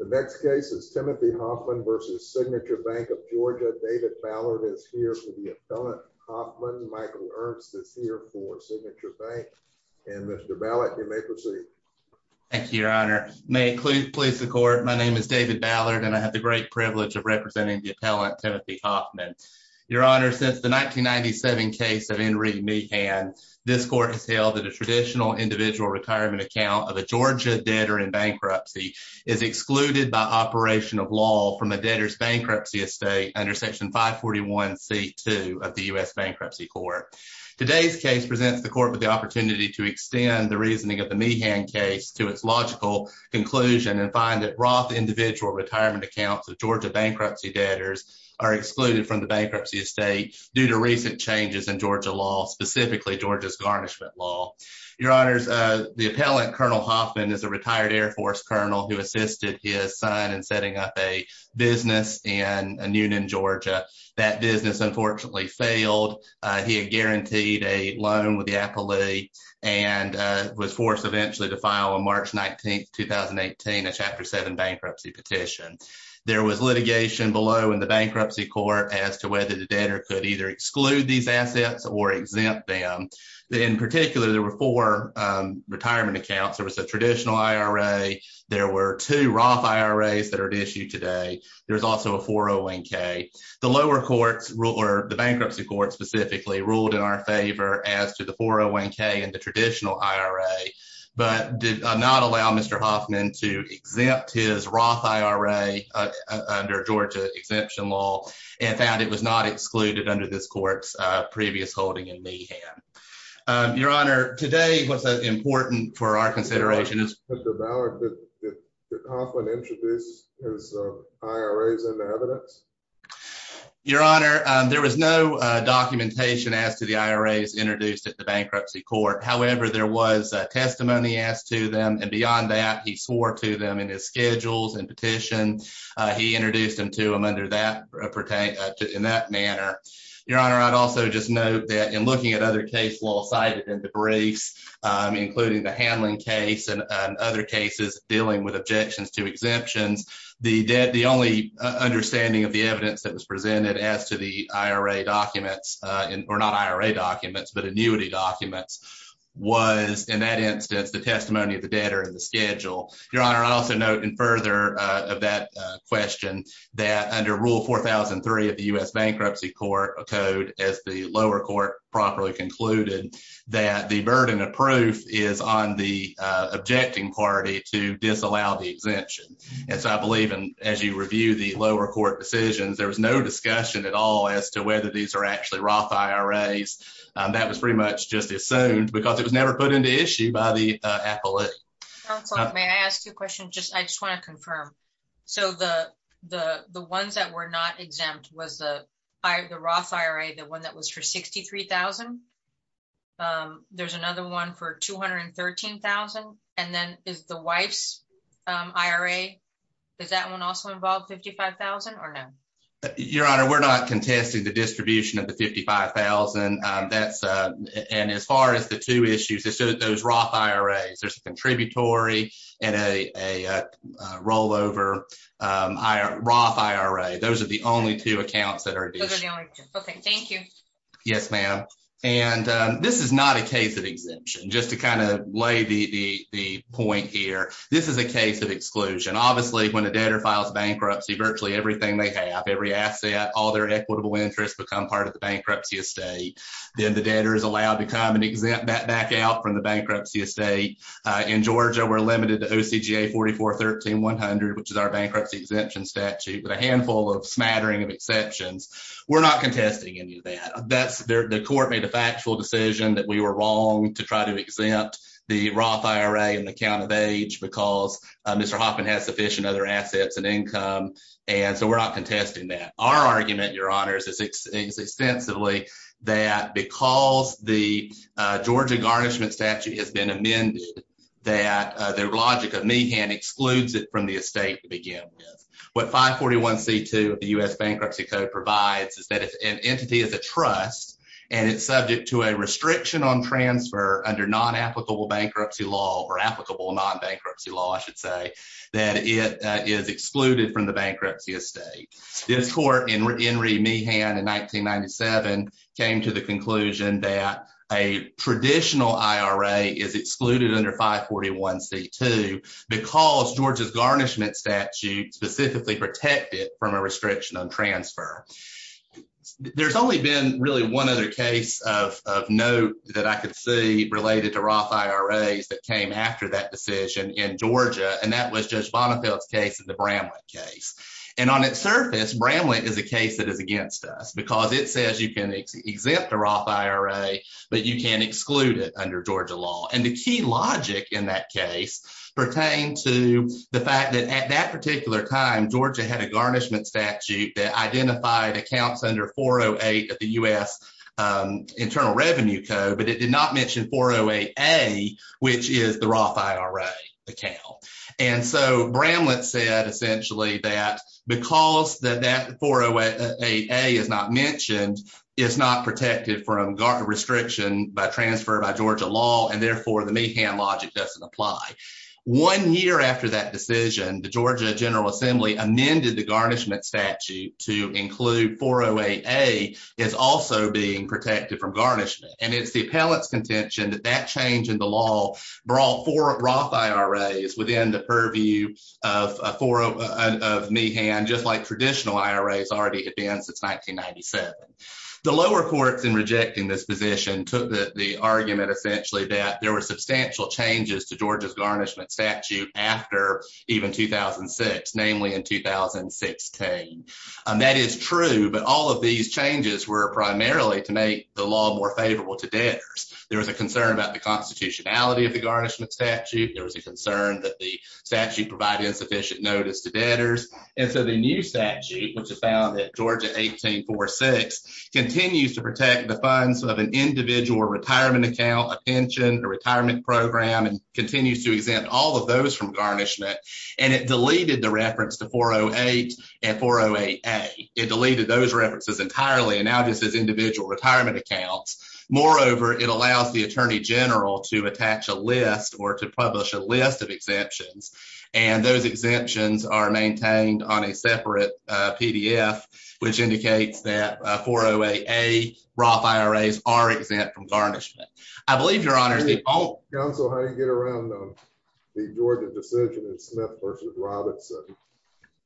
The next case is Timothy Hoffman v. Signature Bank of Georgia. David Ballard is here for the appellant Hoffman. Michael Ernst is here for Signature Bank and Mr. Ballard, you may proceed. Thank you, your honor. May it please the court, my name is David Ballard and I have the great privilege of representing the appellant Timothy Hoffman. Your honor, since the 1997 case of Henry Meehan, this court has held that a traditional individual retirement account of a Georgia debtor in bankruptcy is excluded by operation of law from a debtor's bankruptcy estate under section 541c2 of the U.S. Bankruptcy Court. Today's case presents the court with the opportunity to extend the reasoning of the Meehan case to its logical conclusion and find that Roth individual retirement accounts of Georgia bankruptcy debtors are excluded from the bankruptcy estate due to recent changes in Georgia law, specifically Georgia's garnishment law. Your honors, the retired Air Force colonel who assisted his son in setting up a business in Newnan, Georgia, that business unfortunately failed. He had guaranteed a loan with the appellee and was forced eventually to file on March 19, 2018, a chapter 7 bankruptcy petition. There was litigation below in the bankruptcy court as to whether the debtor could either exclude these assets or exempt them. In particular, there were four retirement accounts. There was a traditional IRA. There were two Roth IRAs that are at issue today. There's also a 401k. The lower courts, the bankruptcy court specifically, ruled in our favor as to the 401k and the traditional IRA, but did not allow Mr. Hoffman to exempt his Roth IRA under Georgia exemption law and found it was not excluded under this court's previous holding in Meehan. Your honor, today was important for our consideration. Your honor, there was no documentation as to the IRAs introduced at the bankruptcy court. However, there was testimony asked to them and beyond that he swore to them in his schedules and petition. He introduced them to them under that in that manner. Your honor, I'd also just note that in looking at other case law cited in the briefs, including the handling case and other cases dealing with objections to exemptions, the debt, the only understanding of the evidence that was presented as to the IRA documents, or not IRA documents, but annuity documents, was in that instance the testimony of the debtor in the schedule. Your honor, I'd also note in that question that under rule 4003 of the U.S. bankruptcy court code, as the lower court properly concluded, that the burden of proof is on the objecting party to disallow the exemption. And so I believe, and as you review the lower court decisions, there was no discussion at all as to whether these are actually Roth IRAs. That was pretty much just assumed because it was never put into issue by the appellate. Counselor, may I ask you a question? I just want to confirm. So the ones that were not exempt was the Roth IRA, the one that was for $63,000. There's another one for $213,000. And then is the wife's IRA, does that one also involve $55,000 or no? Your honor, we're not contesting the distribution of the $55,000. And as far as the issues, those Roth IRAs, there's a contributory and a rollover Roth IRA. Those are the only two accounts that are. Okay, thank you. Yes, ma'am. And this is not a case of exemption. Just to kind of lay the point here. This is a case of exclusion. Obviously, when a debtor files bankruptcy, virtually everything they have, every asset, all their equitable interests become part of the bankruptcy estate. In Georgia, we're limited to OCGA 44-13-100, which is our bankruptcy exemption statute with a handful of smattering of exceptions. We're not contesting any of that. The court made a factual decision that we were wrong to try to exempt the Roth IRA in the count of age because Mr. Hoffman has sufficient other assets and income. And so we're not contesting that. Our argument, your honors, is extensively that because the Georgia garnishment statute has been amended, that the logic of Meehan excludes it from the estate to begin with. What 541c2 of the U.S. Bankruptcy Code provides is that if an entity is a trust and it's subject to a restriction on transfer under non-applicable bankruptcy law or applicable non-bankruptcy law, I should say, that it is excluded from the bankruptcy estate. This court in Henry Meehan in 1997 came to the conclusion that a traditional IRA is excluded under 541c2 because Georgia's garnishment statute specifically protected from a restriction on transfer. There's only been really one other case of note that I could see related to Roth IRAs that came after that decision in Georgia, and that was Judge Bonnefield's case in the Bramlett case. And on its surface, Bramlett is a case that is against us because it says you can exempt the Roth IRA but you can exclude it under Georgia law. And the key logic in that case pertained to the fact that at that particular time, Georgia had a garnishment statute that identified accounts under 408 of the U.S. Internal Revenue Code, but it did not mention 408a, which is the Roth IRA account. And so Bramlett said essentially that because that 408a is not mentioned, it's not protected from restriction by transfer by Georgia law, and therefore the Meehan logic doesn't apply. One year after that decision, the Georgia General Assembly amended the garnishment statute to also being protected from garnishment, and it's the appellant's contention that that change in the law brought four Roth IRAs within the purview of Meehan, just like traditional IRAs already had been since 1997. The lower courts in rejecting this position took the argument essentially that there were substantial changes to Georgia's garnishment statute after even 2006, namely in 2016. That is true, but all of these changes were primarily to make the law more favorable to debtors. There was a concern about the constitutionality of the garnishment statute. There was a concern that the statute provided insufficient notice to debtors. And so the new statute, which was found at Georgia 1846, continues to protect the funds of an individual retirement account, a pension, a retirement program, and continues to exempt all of those from garnishment. And it deleted the reference to 408 and 408A. It deleted those references entirely and now just has individual retirement accounts. Moreover, it allows the attorney general to attach a list or to publish a list of exemptions, and those exemptions are maintained on a separate PDF, which indicates that 408A Roth IRAs are exempt from garnishment. I believe, Your Honor, Counsel, how do you get around the Georgia decision in Smith v. Robertson,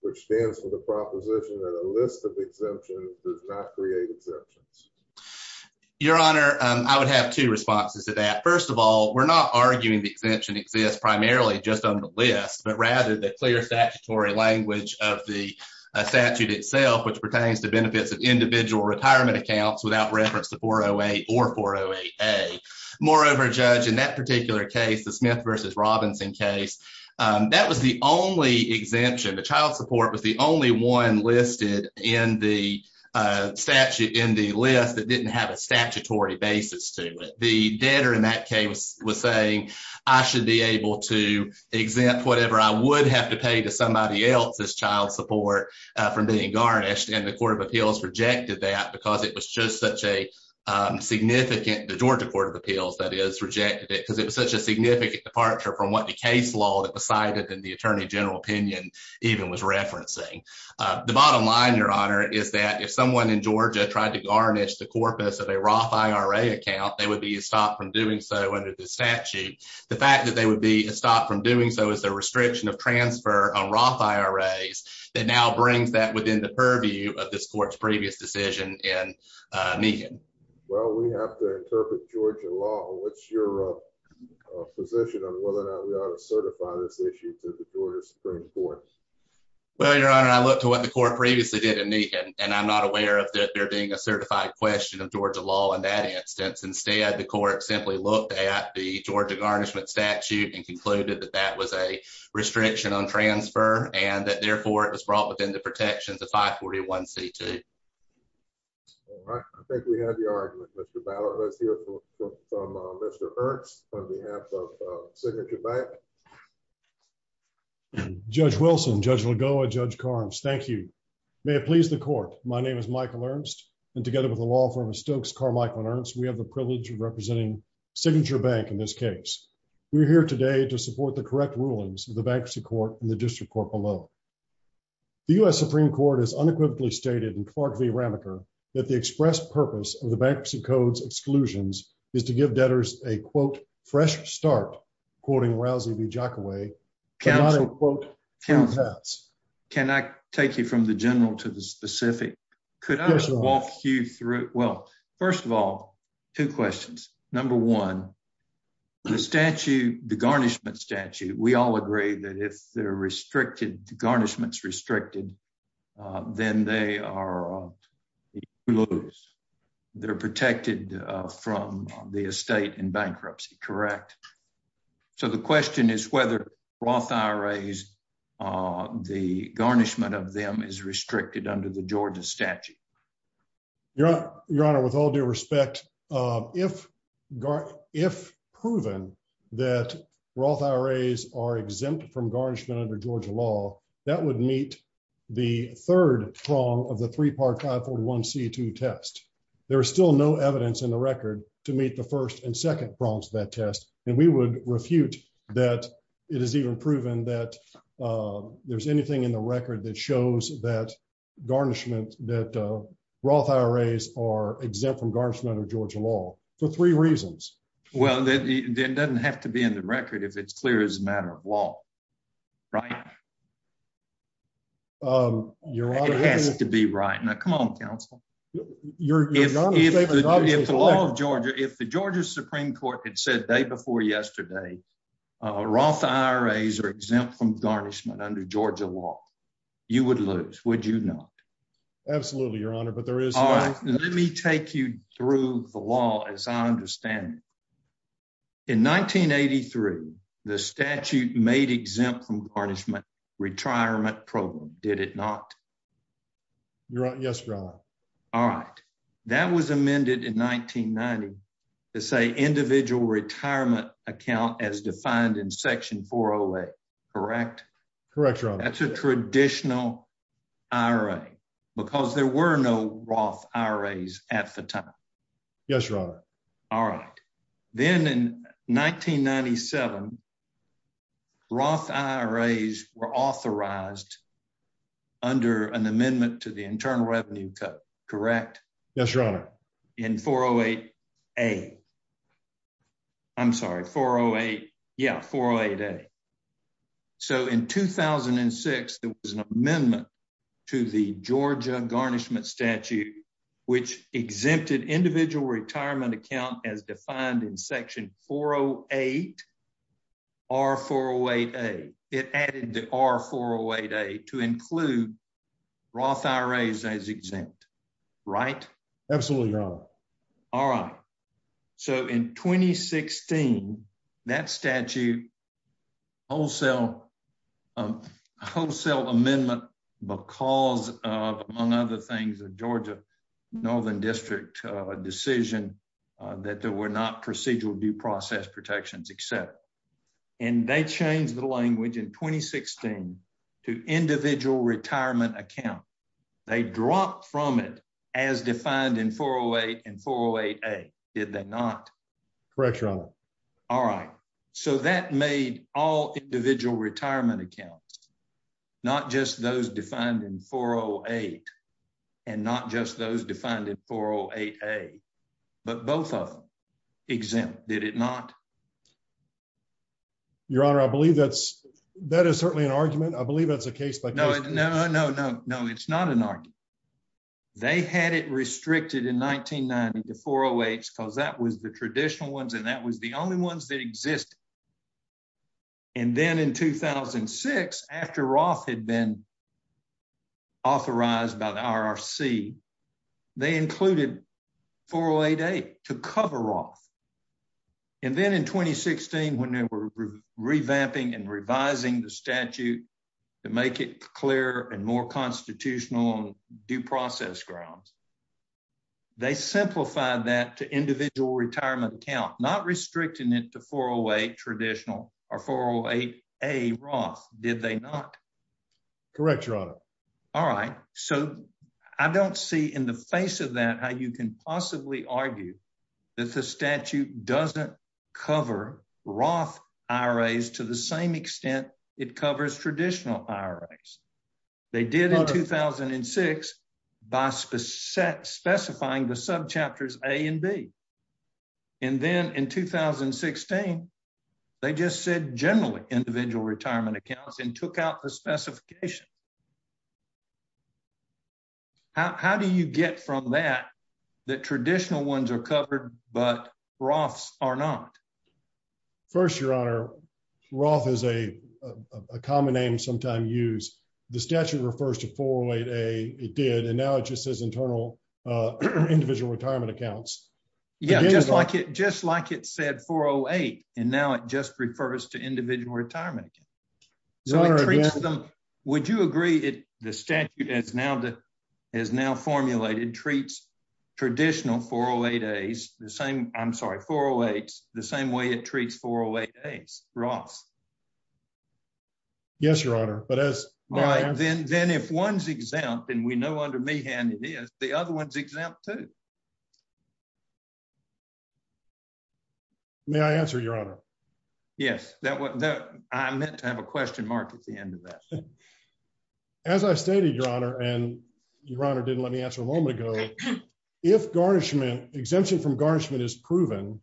which stands for the proposition that a list of exemptions does not create exemptions? Your Honor, I would have two responses to that. First of all, we're not arguing the exemption exists primarily just on the list, but rather the clear statutory language of the statute itself, which pertains to benefits of individual retirement accounts without reference to 408 or 408A. Moreover, Judge, in that particular case, the Smith v. Robinson case, that was the only exemption. The child support was the only one listed in the list that didn't have a statutory basis to it. The debtor in that case was saying, I should be able to exempt whatever I would have to pay to somebody else's child support from being garnished, and the Court of Appeals rejected that because it was just such a significant, the Georgia Court of Appeals, that is, rejected it because it was such a significant departure from what the case law that was cited in the Attorney General opinion even was referencing. The bottom line, Your Honor, is that if someone in Georgia tried to garnish the corpus of a Roth IRA account, they would be stopped from doing so under the statute. The fact that they would be stopped from doing so is a purview of this Court's previous decision in Nehan. Well, we have to interpret Georgia law. What's your position on whether or not we ought to certify this issue to the Georgia Supreme Court? Well, Your Honor, I looked at what the Court previously did in Nehan, and I'm not aware of that there being a certified question of Georgia law in that instance. Instead, the Court simply looked at the Georgia garnishment statute and concluded that that was a restriction on transfer and that, therefore, it was brought within the protections of 541C2. All right. I think we have your argument, Mr. Ballard. Let's hear from Mr. Ernst on behalf of Signature Bank. Judge Wilson, Judge Lagoa, Judge Carnes, thank you. May it please the Court, my name is Michael Ernst, and together with the law firm of Stokes Carmichael and Ernst, we have the privilege of representing Signature Bank in this case. We're here today to support the correct rulings of the court below. The U.S. Supreme Court has unequivocally stated in Clark v. Ramacher that the express purpose of the Bankruptcy Code's exclusions is to give debtors a, quote, fresh start, quoting Rousey v. Jockaway, but not, unquote, free pass. Can I take you from the general to the specific? Could I walk you through, well, first of all, two questions. Number one, the statute, the garnishment statute, we all agree that if they're restricted, the garnishment's restricted, then they are they're protected from the estate in bankruptcy, correct? So the question is whether Roth IRAs, the garnishment of them is restricted under the exempt from garnishment under Georgia law, that would meet the third prong of the three-part 541c2 test. There is still no evidence in the record to meet the first and second prongs of that test, and we would refute that it is even proven that there's anything in the record that shows that garnishment, that Roth IRAs are exempt from garnishment under Georgia law for three reasons. Well, that doesn't have to be in the record if it's clear as a matter of law, right? It has to be right. Now, come on, counsel. If the law of Georgia, if the Georgia Supreme Court had said day before yesterday, Roth IRAs are exempt from garnishment under Georgia law, you would lose, would you not? Absolutely, your honor, but there is... Let me take you through the law as I understand it. In 1983, the statute made exempt from garnishment retirement program, did it not? Yes, your honor. All right, that was amended in 1990 to say individual retirement account as defined in section 408, correct? Correct, your honor. That's a traditional IRA because there were no Roth IRAs at the time. Yes, your honor. All right. Then in 1997, Roth IRAs were authorized under an amendment to the Internal Revenue Code, correct? Yes, your honor. In 408A, I'm sorry, 408, yeah, 408A. So in 2006, there was an amendment to the Georgia garnishment statute which exempted individual retirement account as defined in section 408, R408A. It added the R408A to include Roth IRAs as exempt, right? Absolutely, your honor. All right. So in 2016, that statute wholesale amendment because, among other things, the Georgia Northern District decision that there were not procedural due process protections except. And they changed the language in 2016 to individual retirement account. They dropped from it as defined in 408 and 408A, did they not? Correct, your honor. All right. So that made all individual retirement accounts, not just those defined in 408 and not just those defined in 408A, but both of them exempt, did it not? Your honor, I believe that is certainly an argument. I believe that's a case by case. No, no, no, no. It's not an argument. They had it restricted in 1990 to 408s because that was the traditional ones and that was the only ones that existed. And then in 2006, after Roth had been authorized by the RRC, they included 408A to cover Roth. And then in 2016, when they were revamping and revising the statute to make it clearer and more constitutional on due process grounds, they simplified that to individual retirement account, not restricting it to 408 traditional or 408A Roth, did they not? Correct, your honor. All right. So I don't see in the face of that how you can possibly argue that the statute doesn't cover Roth IRAs to the same extent it covers traditional IRAs. They did in 2006 by specifying the subchapters A and B. And then in 2016, they just said generally individual retirement accounts and took out the specification. How do you get from that that traditional ones are covered but Roths are not? First, your honor, Roth is a common name sometimes used. The statute refers to 408A. It did. And now it just says internal individual retirement accounts. Yeah, just like it just like it said 408. And now it just refers to individual retirement. So would you agree that the statute is now that is now formulated treats traditional 408As the same, I'm sorry, 408s the same way it treats 408As Roth? Yes, your honor. But then if one's exempt and we know under Meehan it is, the other one's exempt too. May I answer, your honor? Yes, I meant to have a question mark at the end of that. As I stated, your honor, and your honor didn't let me answer a moment ago. If exemption from garnishment is proven,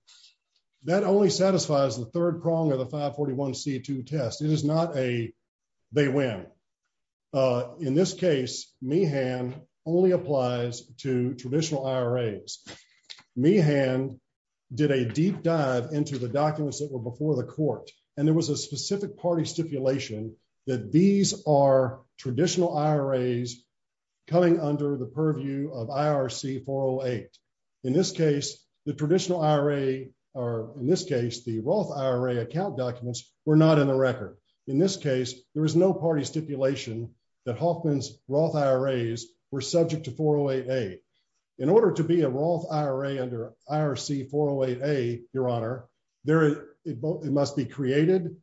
that only satisfies the third prong of the 541C2 test. It is not a they win. In this case, Meehan only applies to traditional IRAs. Meehan did a deep dive into the documents that were before the court. And there was a specific party stipulation that these are traditional IRAs coming under the purview of IRC 408. In this case, the traditional IRA or in this case, the Roth IRA account documents were not in the record. In this case, there is no party stipulation that Hoffman's Roth IRAs were subject to 408A. In order to be a Roth IRA under IRC 408A, your honor, it must be created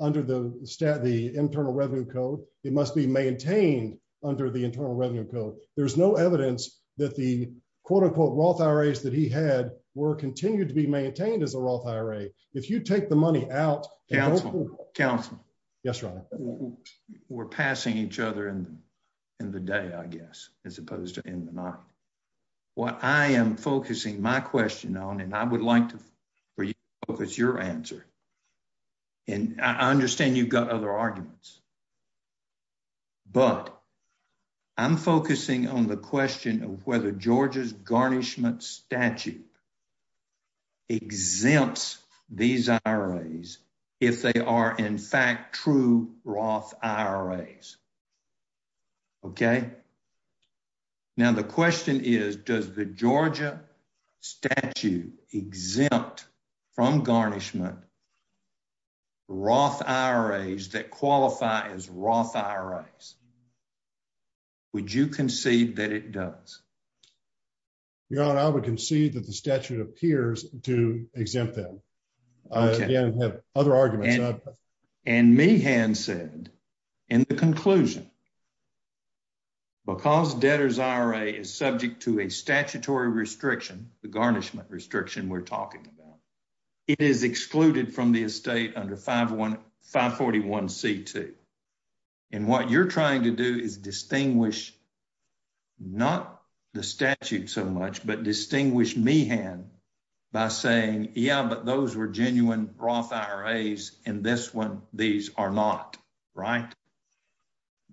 under the internal revenue code. It must be maintained under the internal revenue code. There's no evidence that the, quote unquote, Roth IRAs that he had were continued to be maintained as a Roth IRA. If you take the money out- Counselor, counselor. Yes, your honor. We're passing each other in the day, I guess, as opposed to in the night. What I am focusing my question on, and I would like to focus your answer, and I understand you've got other arguments, but I'm focusing on the question of whether Georgia's garnishment statute exempts these IRAs if they are, in fact, true Roth IRAs, okay? Now, the question is, does the Georgia statute exempt from garnishment Roth IRAs that qualify as Roth IRAs? Would you concede that it does? Your honor, I would concede that the statute appears to exempt them. Okay. Again, I have other arguments. And Meehan said, in the conclusion, because debtor's IRA is subject to a statutory restriction, the garnishment restriction we're talking about, it is excluded from the estate under 541c2. And what you're trying to do is distinguish, not the statute so much, but distinguish Meehan by saying, yeah, but those were genuine Roth IRAs, and this one, these are not, right?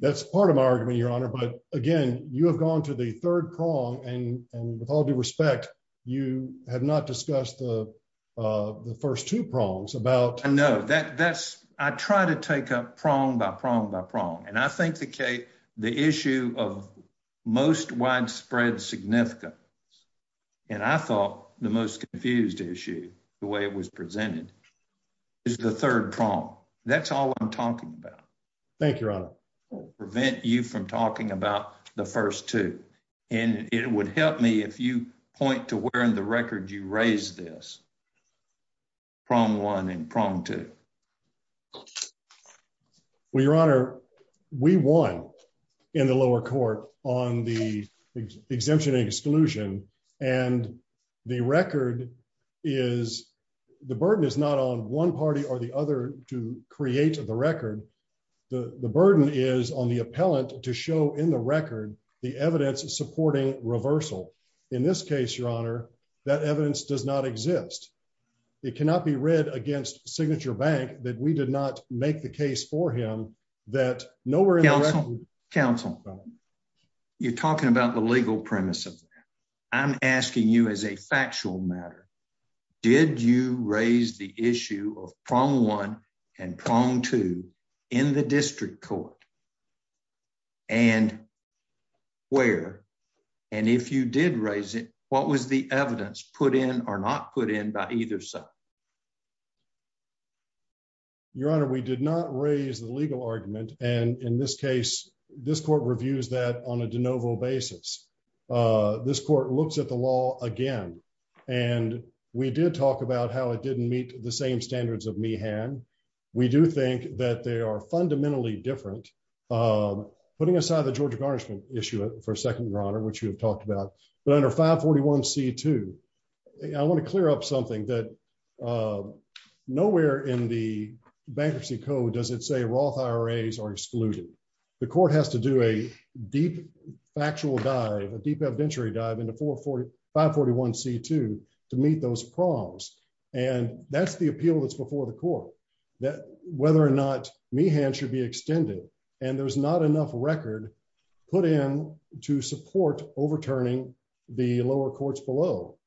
That's part of my argument, your honor. But again, you have gone to the third prong, and with all due respect, you have not discussed the first two prongs about- No, I try to take up prong by prong by prong. And I think the issue of most widespread significance, and I thought the most confused issue, the way it was presented, is the third prong. That's all I'm talking about. Thank you, your honor. It will prevent you from talking about the first two. And it would help me if you point to where in the record you raised this, prong one and prong two. Well, your honor, we won in the lower court on the exemption and exclusion. And the record is, the burden is not on one party or the other to create the record. The burden is on the appellant to show in the record the evidence supporting reversal. In this case, your honor, that evidence does not exist. It cannot be read against Signature Bank that we did not make the case for him that- Counsel, counsel, you're talking about the legal premise of that. I'm asking you as a factual matter, did you raise the issue of prong one and prong two in the district court? And where? And if you did raise it, what was the evidence put in or not put in by either side? Your honor, we did not raise the legal argument. And in this case, this court reviews that on a de novo basis. This court looks at the law again. And we did talk about how it didn't meet the same standards of Meehan. We do think that they are fundamentally different. Putting aside the Georgia garnishment issue for a second, your honor, which you have talked about, but under 541c2, I want to clear up something that nowhere in the bankruptcy code does it say Roth IRAs are excluded. The court has to do a deep factual dive, a deep evidentiary dive into 541c2 to meet those prongs. And that's the appeal that's before the court, that whether or not Meehan should be extended. There's not enough record put in to support overturning the lower courts below.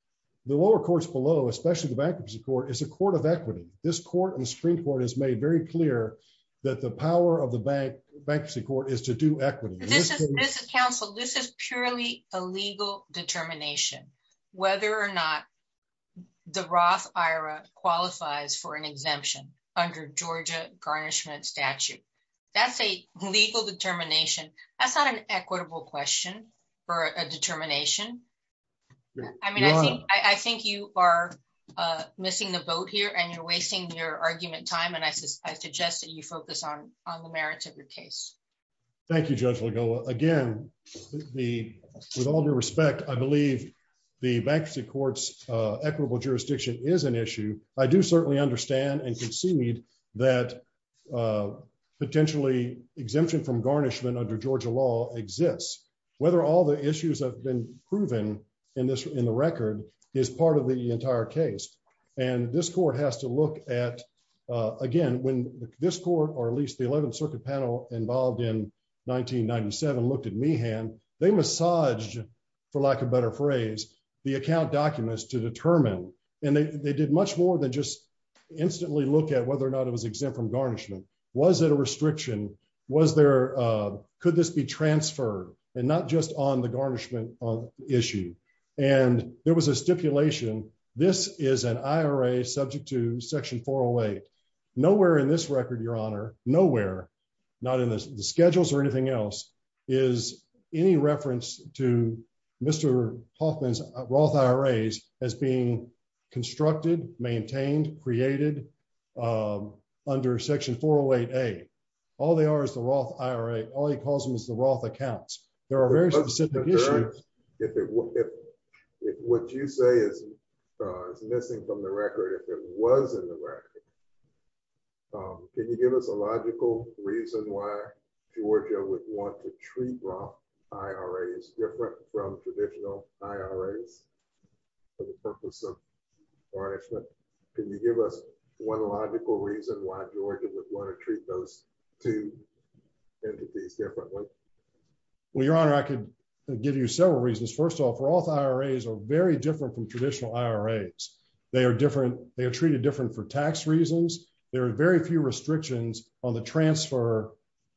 The lower courts below, especially the bankruptcy court, is a court of equity. This court and the Supreme Court has made very clear that the power of the bankruptcy court is to do equity. This is, counsel, this is purely a legal determination, whether or not the Roth IRA qualifies for an exemption under Georgia garnishment statute. That's a legal determination. That's not an equitable question or a determination. I mean, I think you are missing the boat here and you're wasting your argument time. And I suggest that you focus on the merits of your case. Thank you, Judge Legola. Again, with all due respect, I believe the bankruptcy court's equitable jurisdiction is an issue. I do certainly understand and concede that potentially exemption from garnishment under Georgia law exists. Whether all the issues have been proven in the record is part of the entire case. And this court has to look at, again, when this court or at least the 11th Circuit panel involved in 1997 looked at Meehan, they massaged, for lack of a better phrase, the account documents to determine. And they did much more than just instantly look at whether or not it was exempt from garnishment. Was it a restriction? Could this be transferred and not just on the garnishment issue? And there was a stipulation, this is an IRA subject to Section 408. Nowhere in this record, Your Honor, nowhere, not in the schedules or anything else, is any reference to Mr. Hoffman's Roth IRAs as being constructed, maintained, created under Section 408A. All they are is the Roth IRA. All he calls them is the Roth accounts. There are very specific issues. If what you say is missing from the record, if it was in the record, can you give us a Roth IRA is different from traditional IRAs for the purpose of garnishment? Can you give us one logical reason why Georgia would want to treat those two entities differently? Well, Your Honor, I could give you several reasons. First off, Roth IRAs are very different from traditional IRAs. They are different. They are treated different for tax reasons. There are very few restrictions on the transfer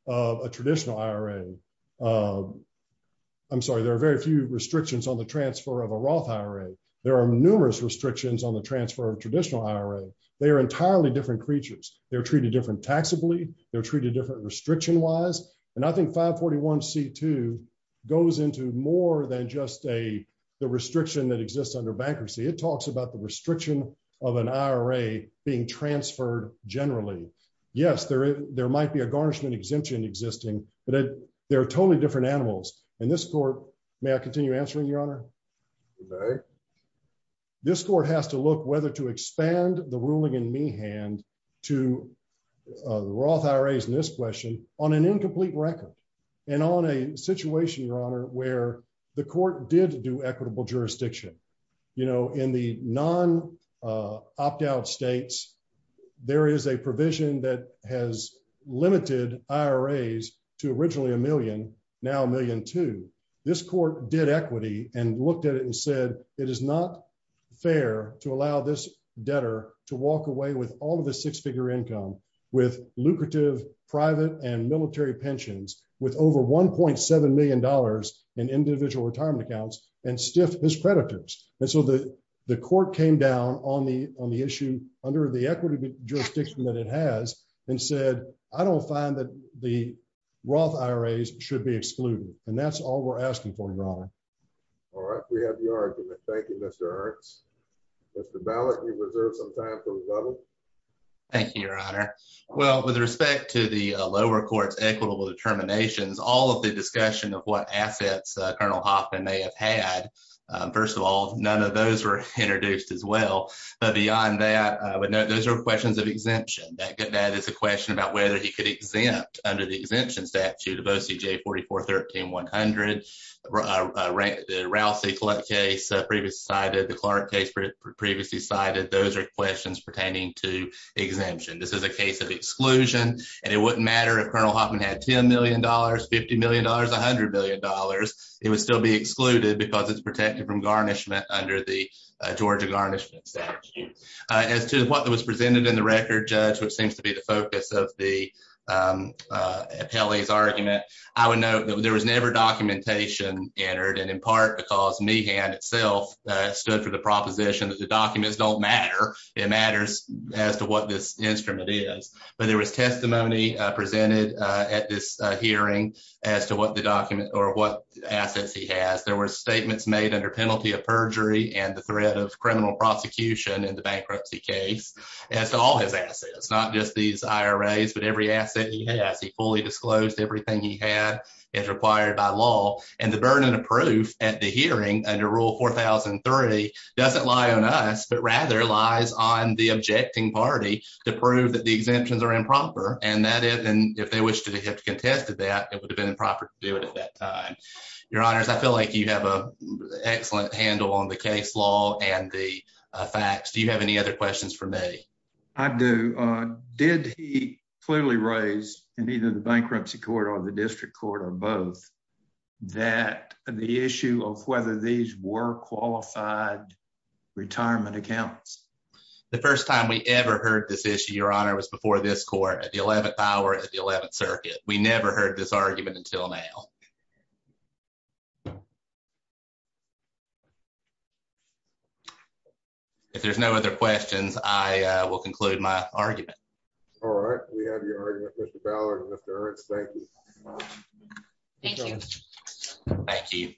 of a traditional IRA. I'm sorry, there are very few restrictions on the transfer of a Roth IRA. There are numerous restrictions on the transfer of traditional IRA. They are entirely different creatures. They're treated different taxably. They're treated different restriction-wise. And I think 541C2 goes into more than just the restriction that exists under bankruptcy. It talks about the restriction of an IRA being transferred generally. Yes, there might be a garnishment exemption existing, but they're totally different animals. And this court, may I continue answering, Your Honor? This court has to look whether to expand the ruling in me hand to the Roth IRAs in this question on an incomplete record and on a situation, Your Honor, where the court did do equitable jurisdiction. In the non-opt-out states, there is a provision that has limited IRAs to originally a million, now a million two. This court did equity and looked at it and said, it is not fair to allow this debtor to walk away with all of the six-figure income, with lucrative private and military pensions, with over $1.7 million in individual retirement accounts, and stiff his creditors. And so the court came down on the issue under the equity jurisdiction that it has and said, I don't find that the Roth IRAs should be excluded. And that's all we're asking for, Your Honor. All right, we have your argument. Thank you, Mr. Ernst. Mr. Ballek, you reserve some time for rebuttal. Thank you, Your Honor. Well, with respect to the lower court's equitable determinations, all of the discussion of what assets Colonel Hoffman may have had, first of all, none of those were introduced as well. But beyond that, I would note those are questions of exemption. That is a question about whether he could exempt under the exemption statute of OCJ 4413-100, the Rousey case previously cited, the Clark case previously cited, those are questions pertaining to exemption. This is a case of exclusion, and it wouldn't matter if Colonel Hoffman had $10 million, $50 million, $100 million. It would still be excluded because it's protected from garnishment under the Georgia garnishment statute. As to what was presented in the record, Judge, which seems to be the focus of the appellee's argument, I would note that there was never documentation entered, and in part because Meehan itself stood for the proposition that the documents don't matter. It matters as to what this instrument is. But there was testimony presented at this hearing as to what the document or what assets he has. There were statements made under penalty of perjury and the threat of criminal prosecution in the bankruptcy case as to all his assets, not just these IRAs, but every asset he has. He fully disclosed everything he had as required by law, and the burden of proof at the hearing under Rule 4003 doesn't lie on us, but rather lies on the objecting party to prove that the exemptions are improper. And if they wished to have contested that, it would have been improper to do it at that time. Your Honors, I feel like you have an excellent handle on the case law and the facts. Do you have any other questions for me? I do. Did he clearly raise, in either the bankruptcy court or the district court or both, that the issue of whether these were qualified retirement accounts? The first time we ever heard this issue, Your Honor, was before this court at the 11th hour at the 11th circuit. We never heard this argument until now. If there's no other questions, I will conclude my argument. All right. We have your argument, Mr. Ballard and Mr. Ernst. Thank you. Thank you. Thank you.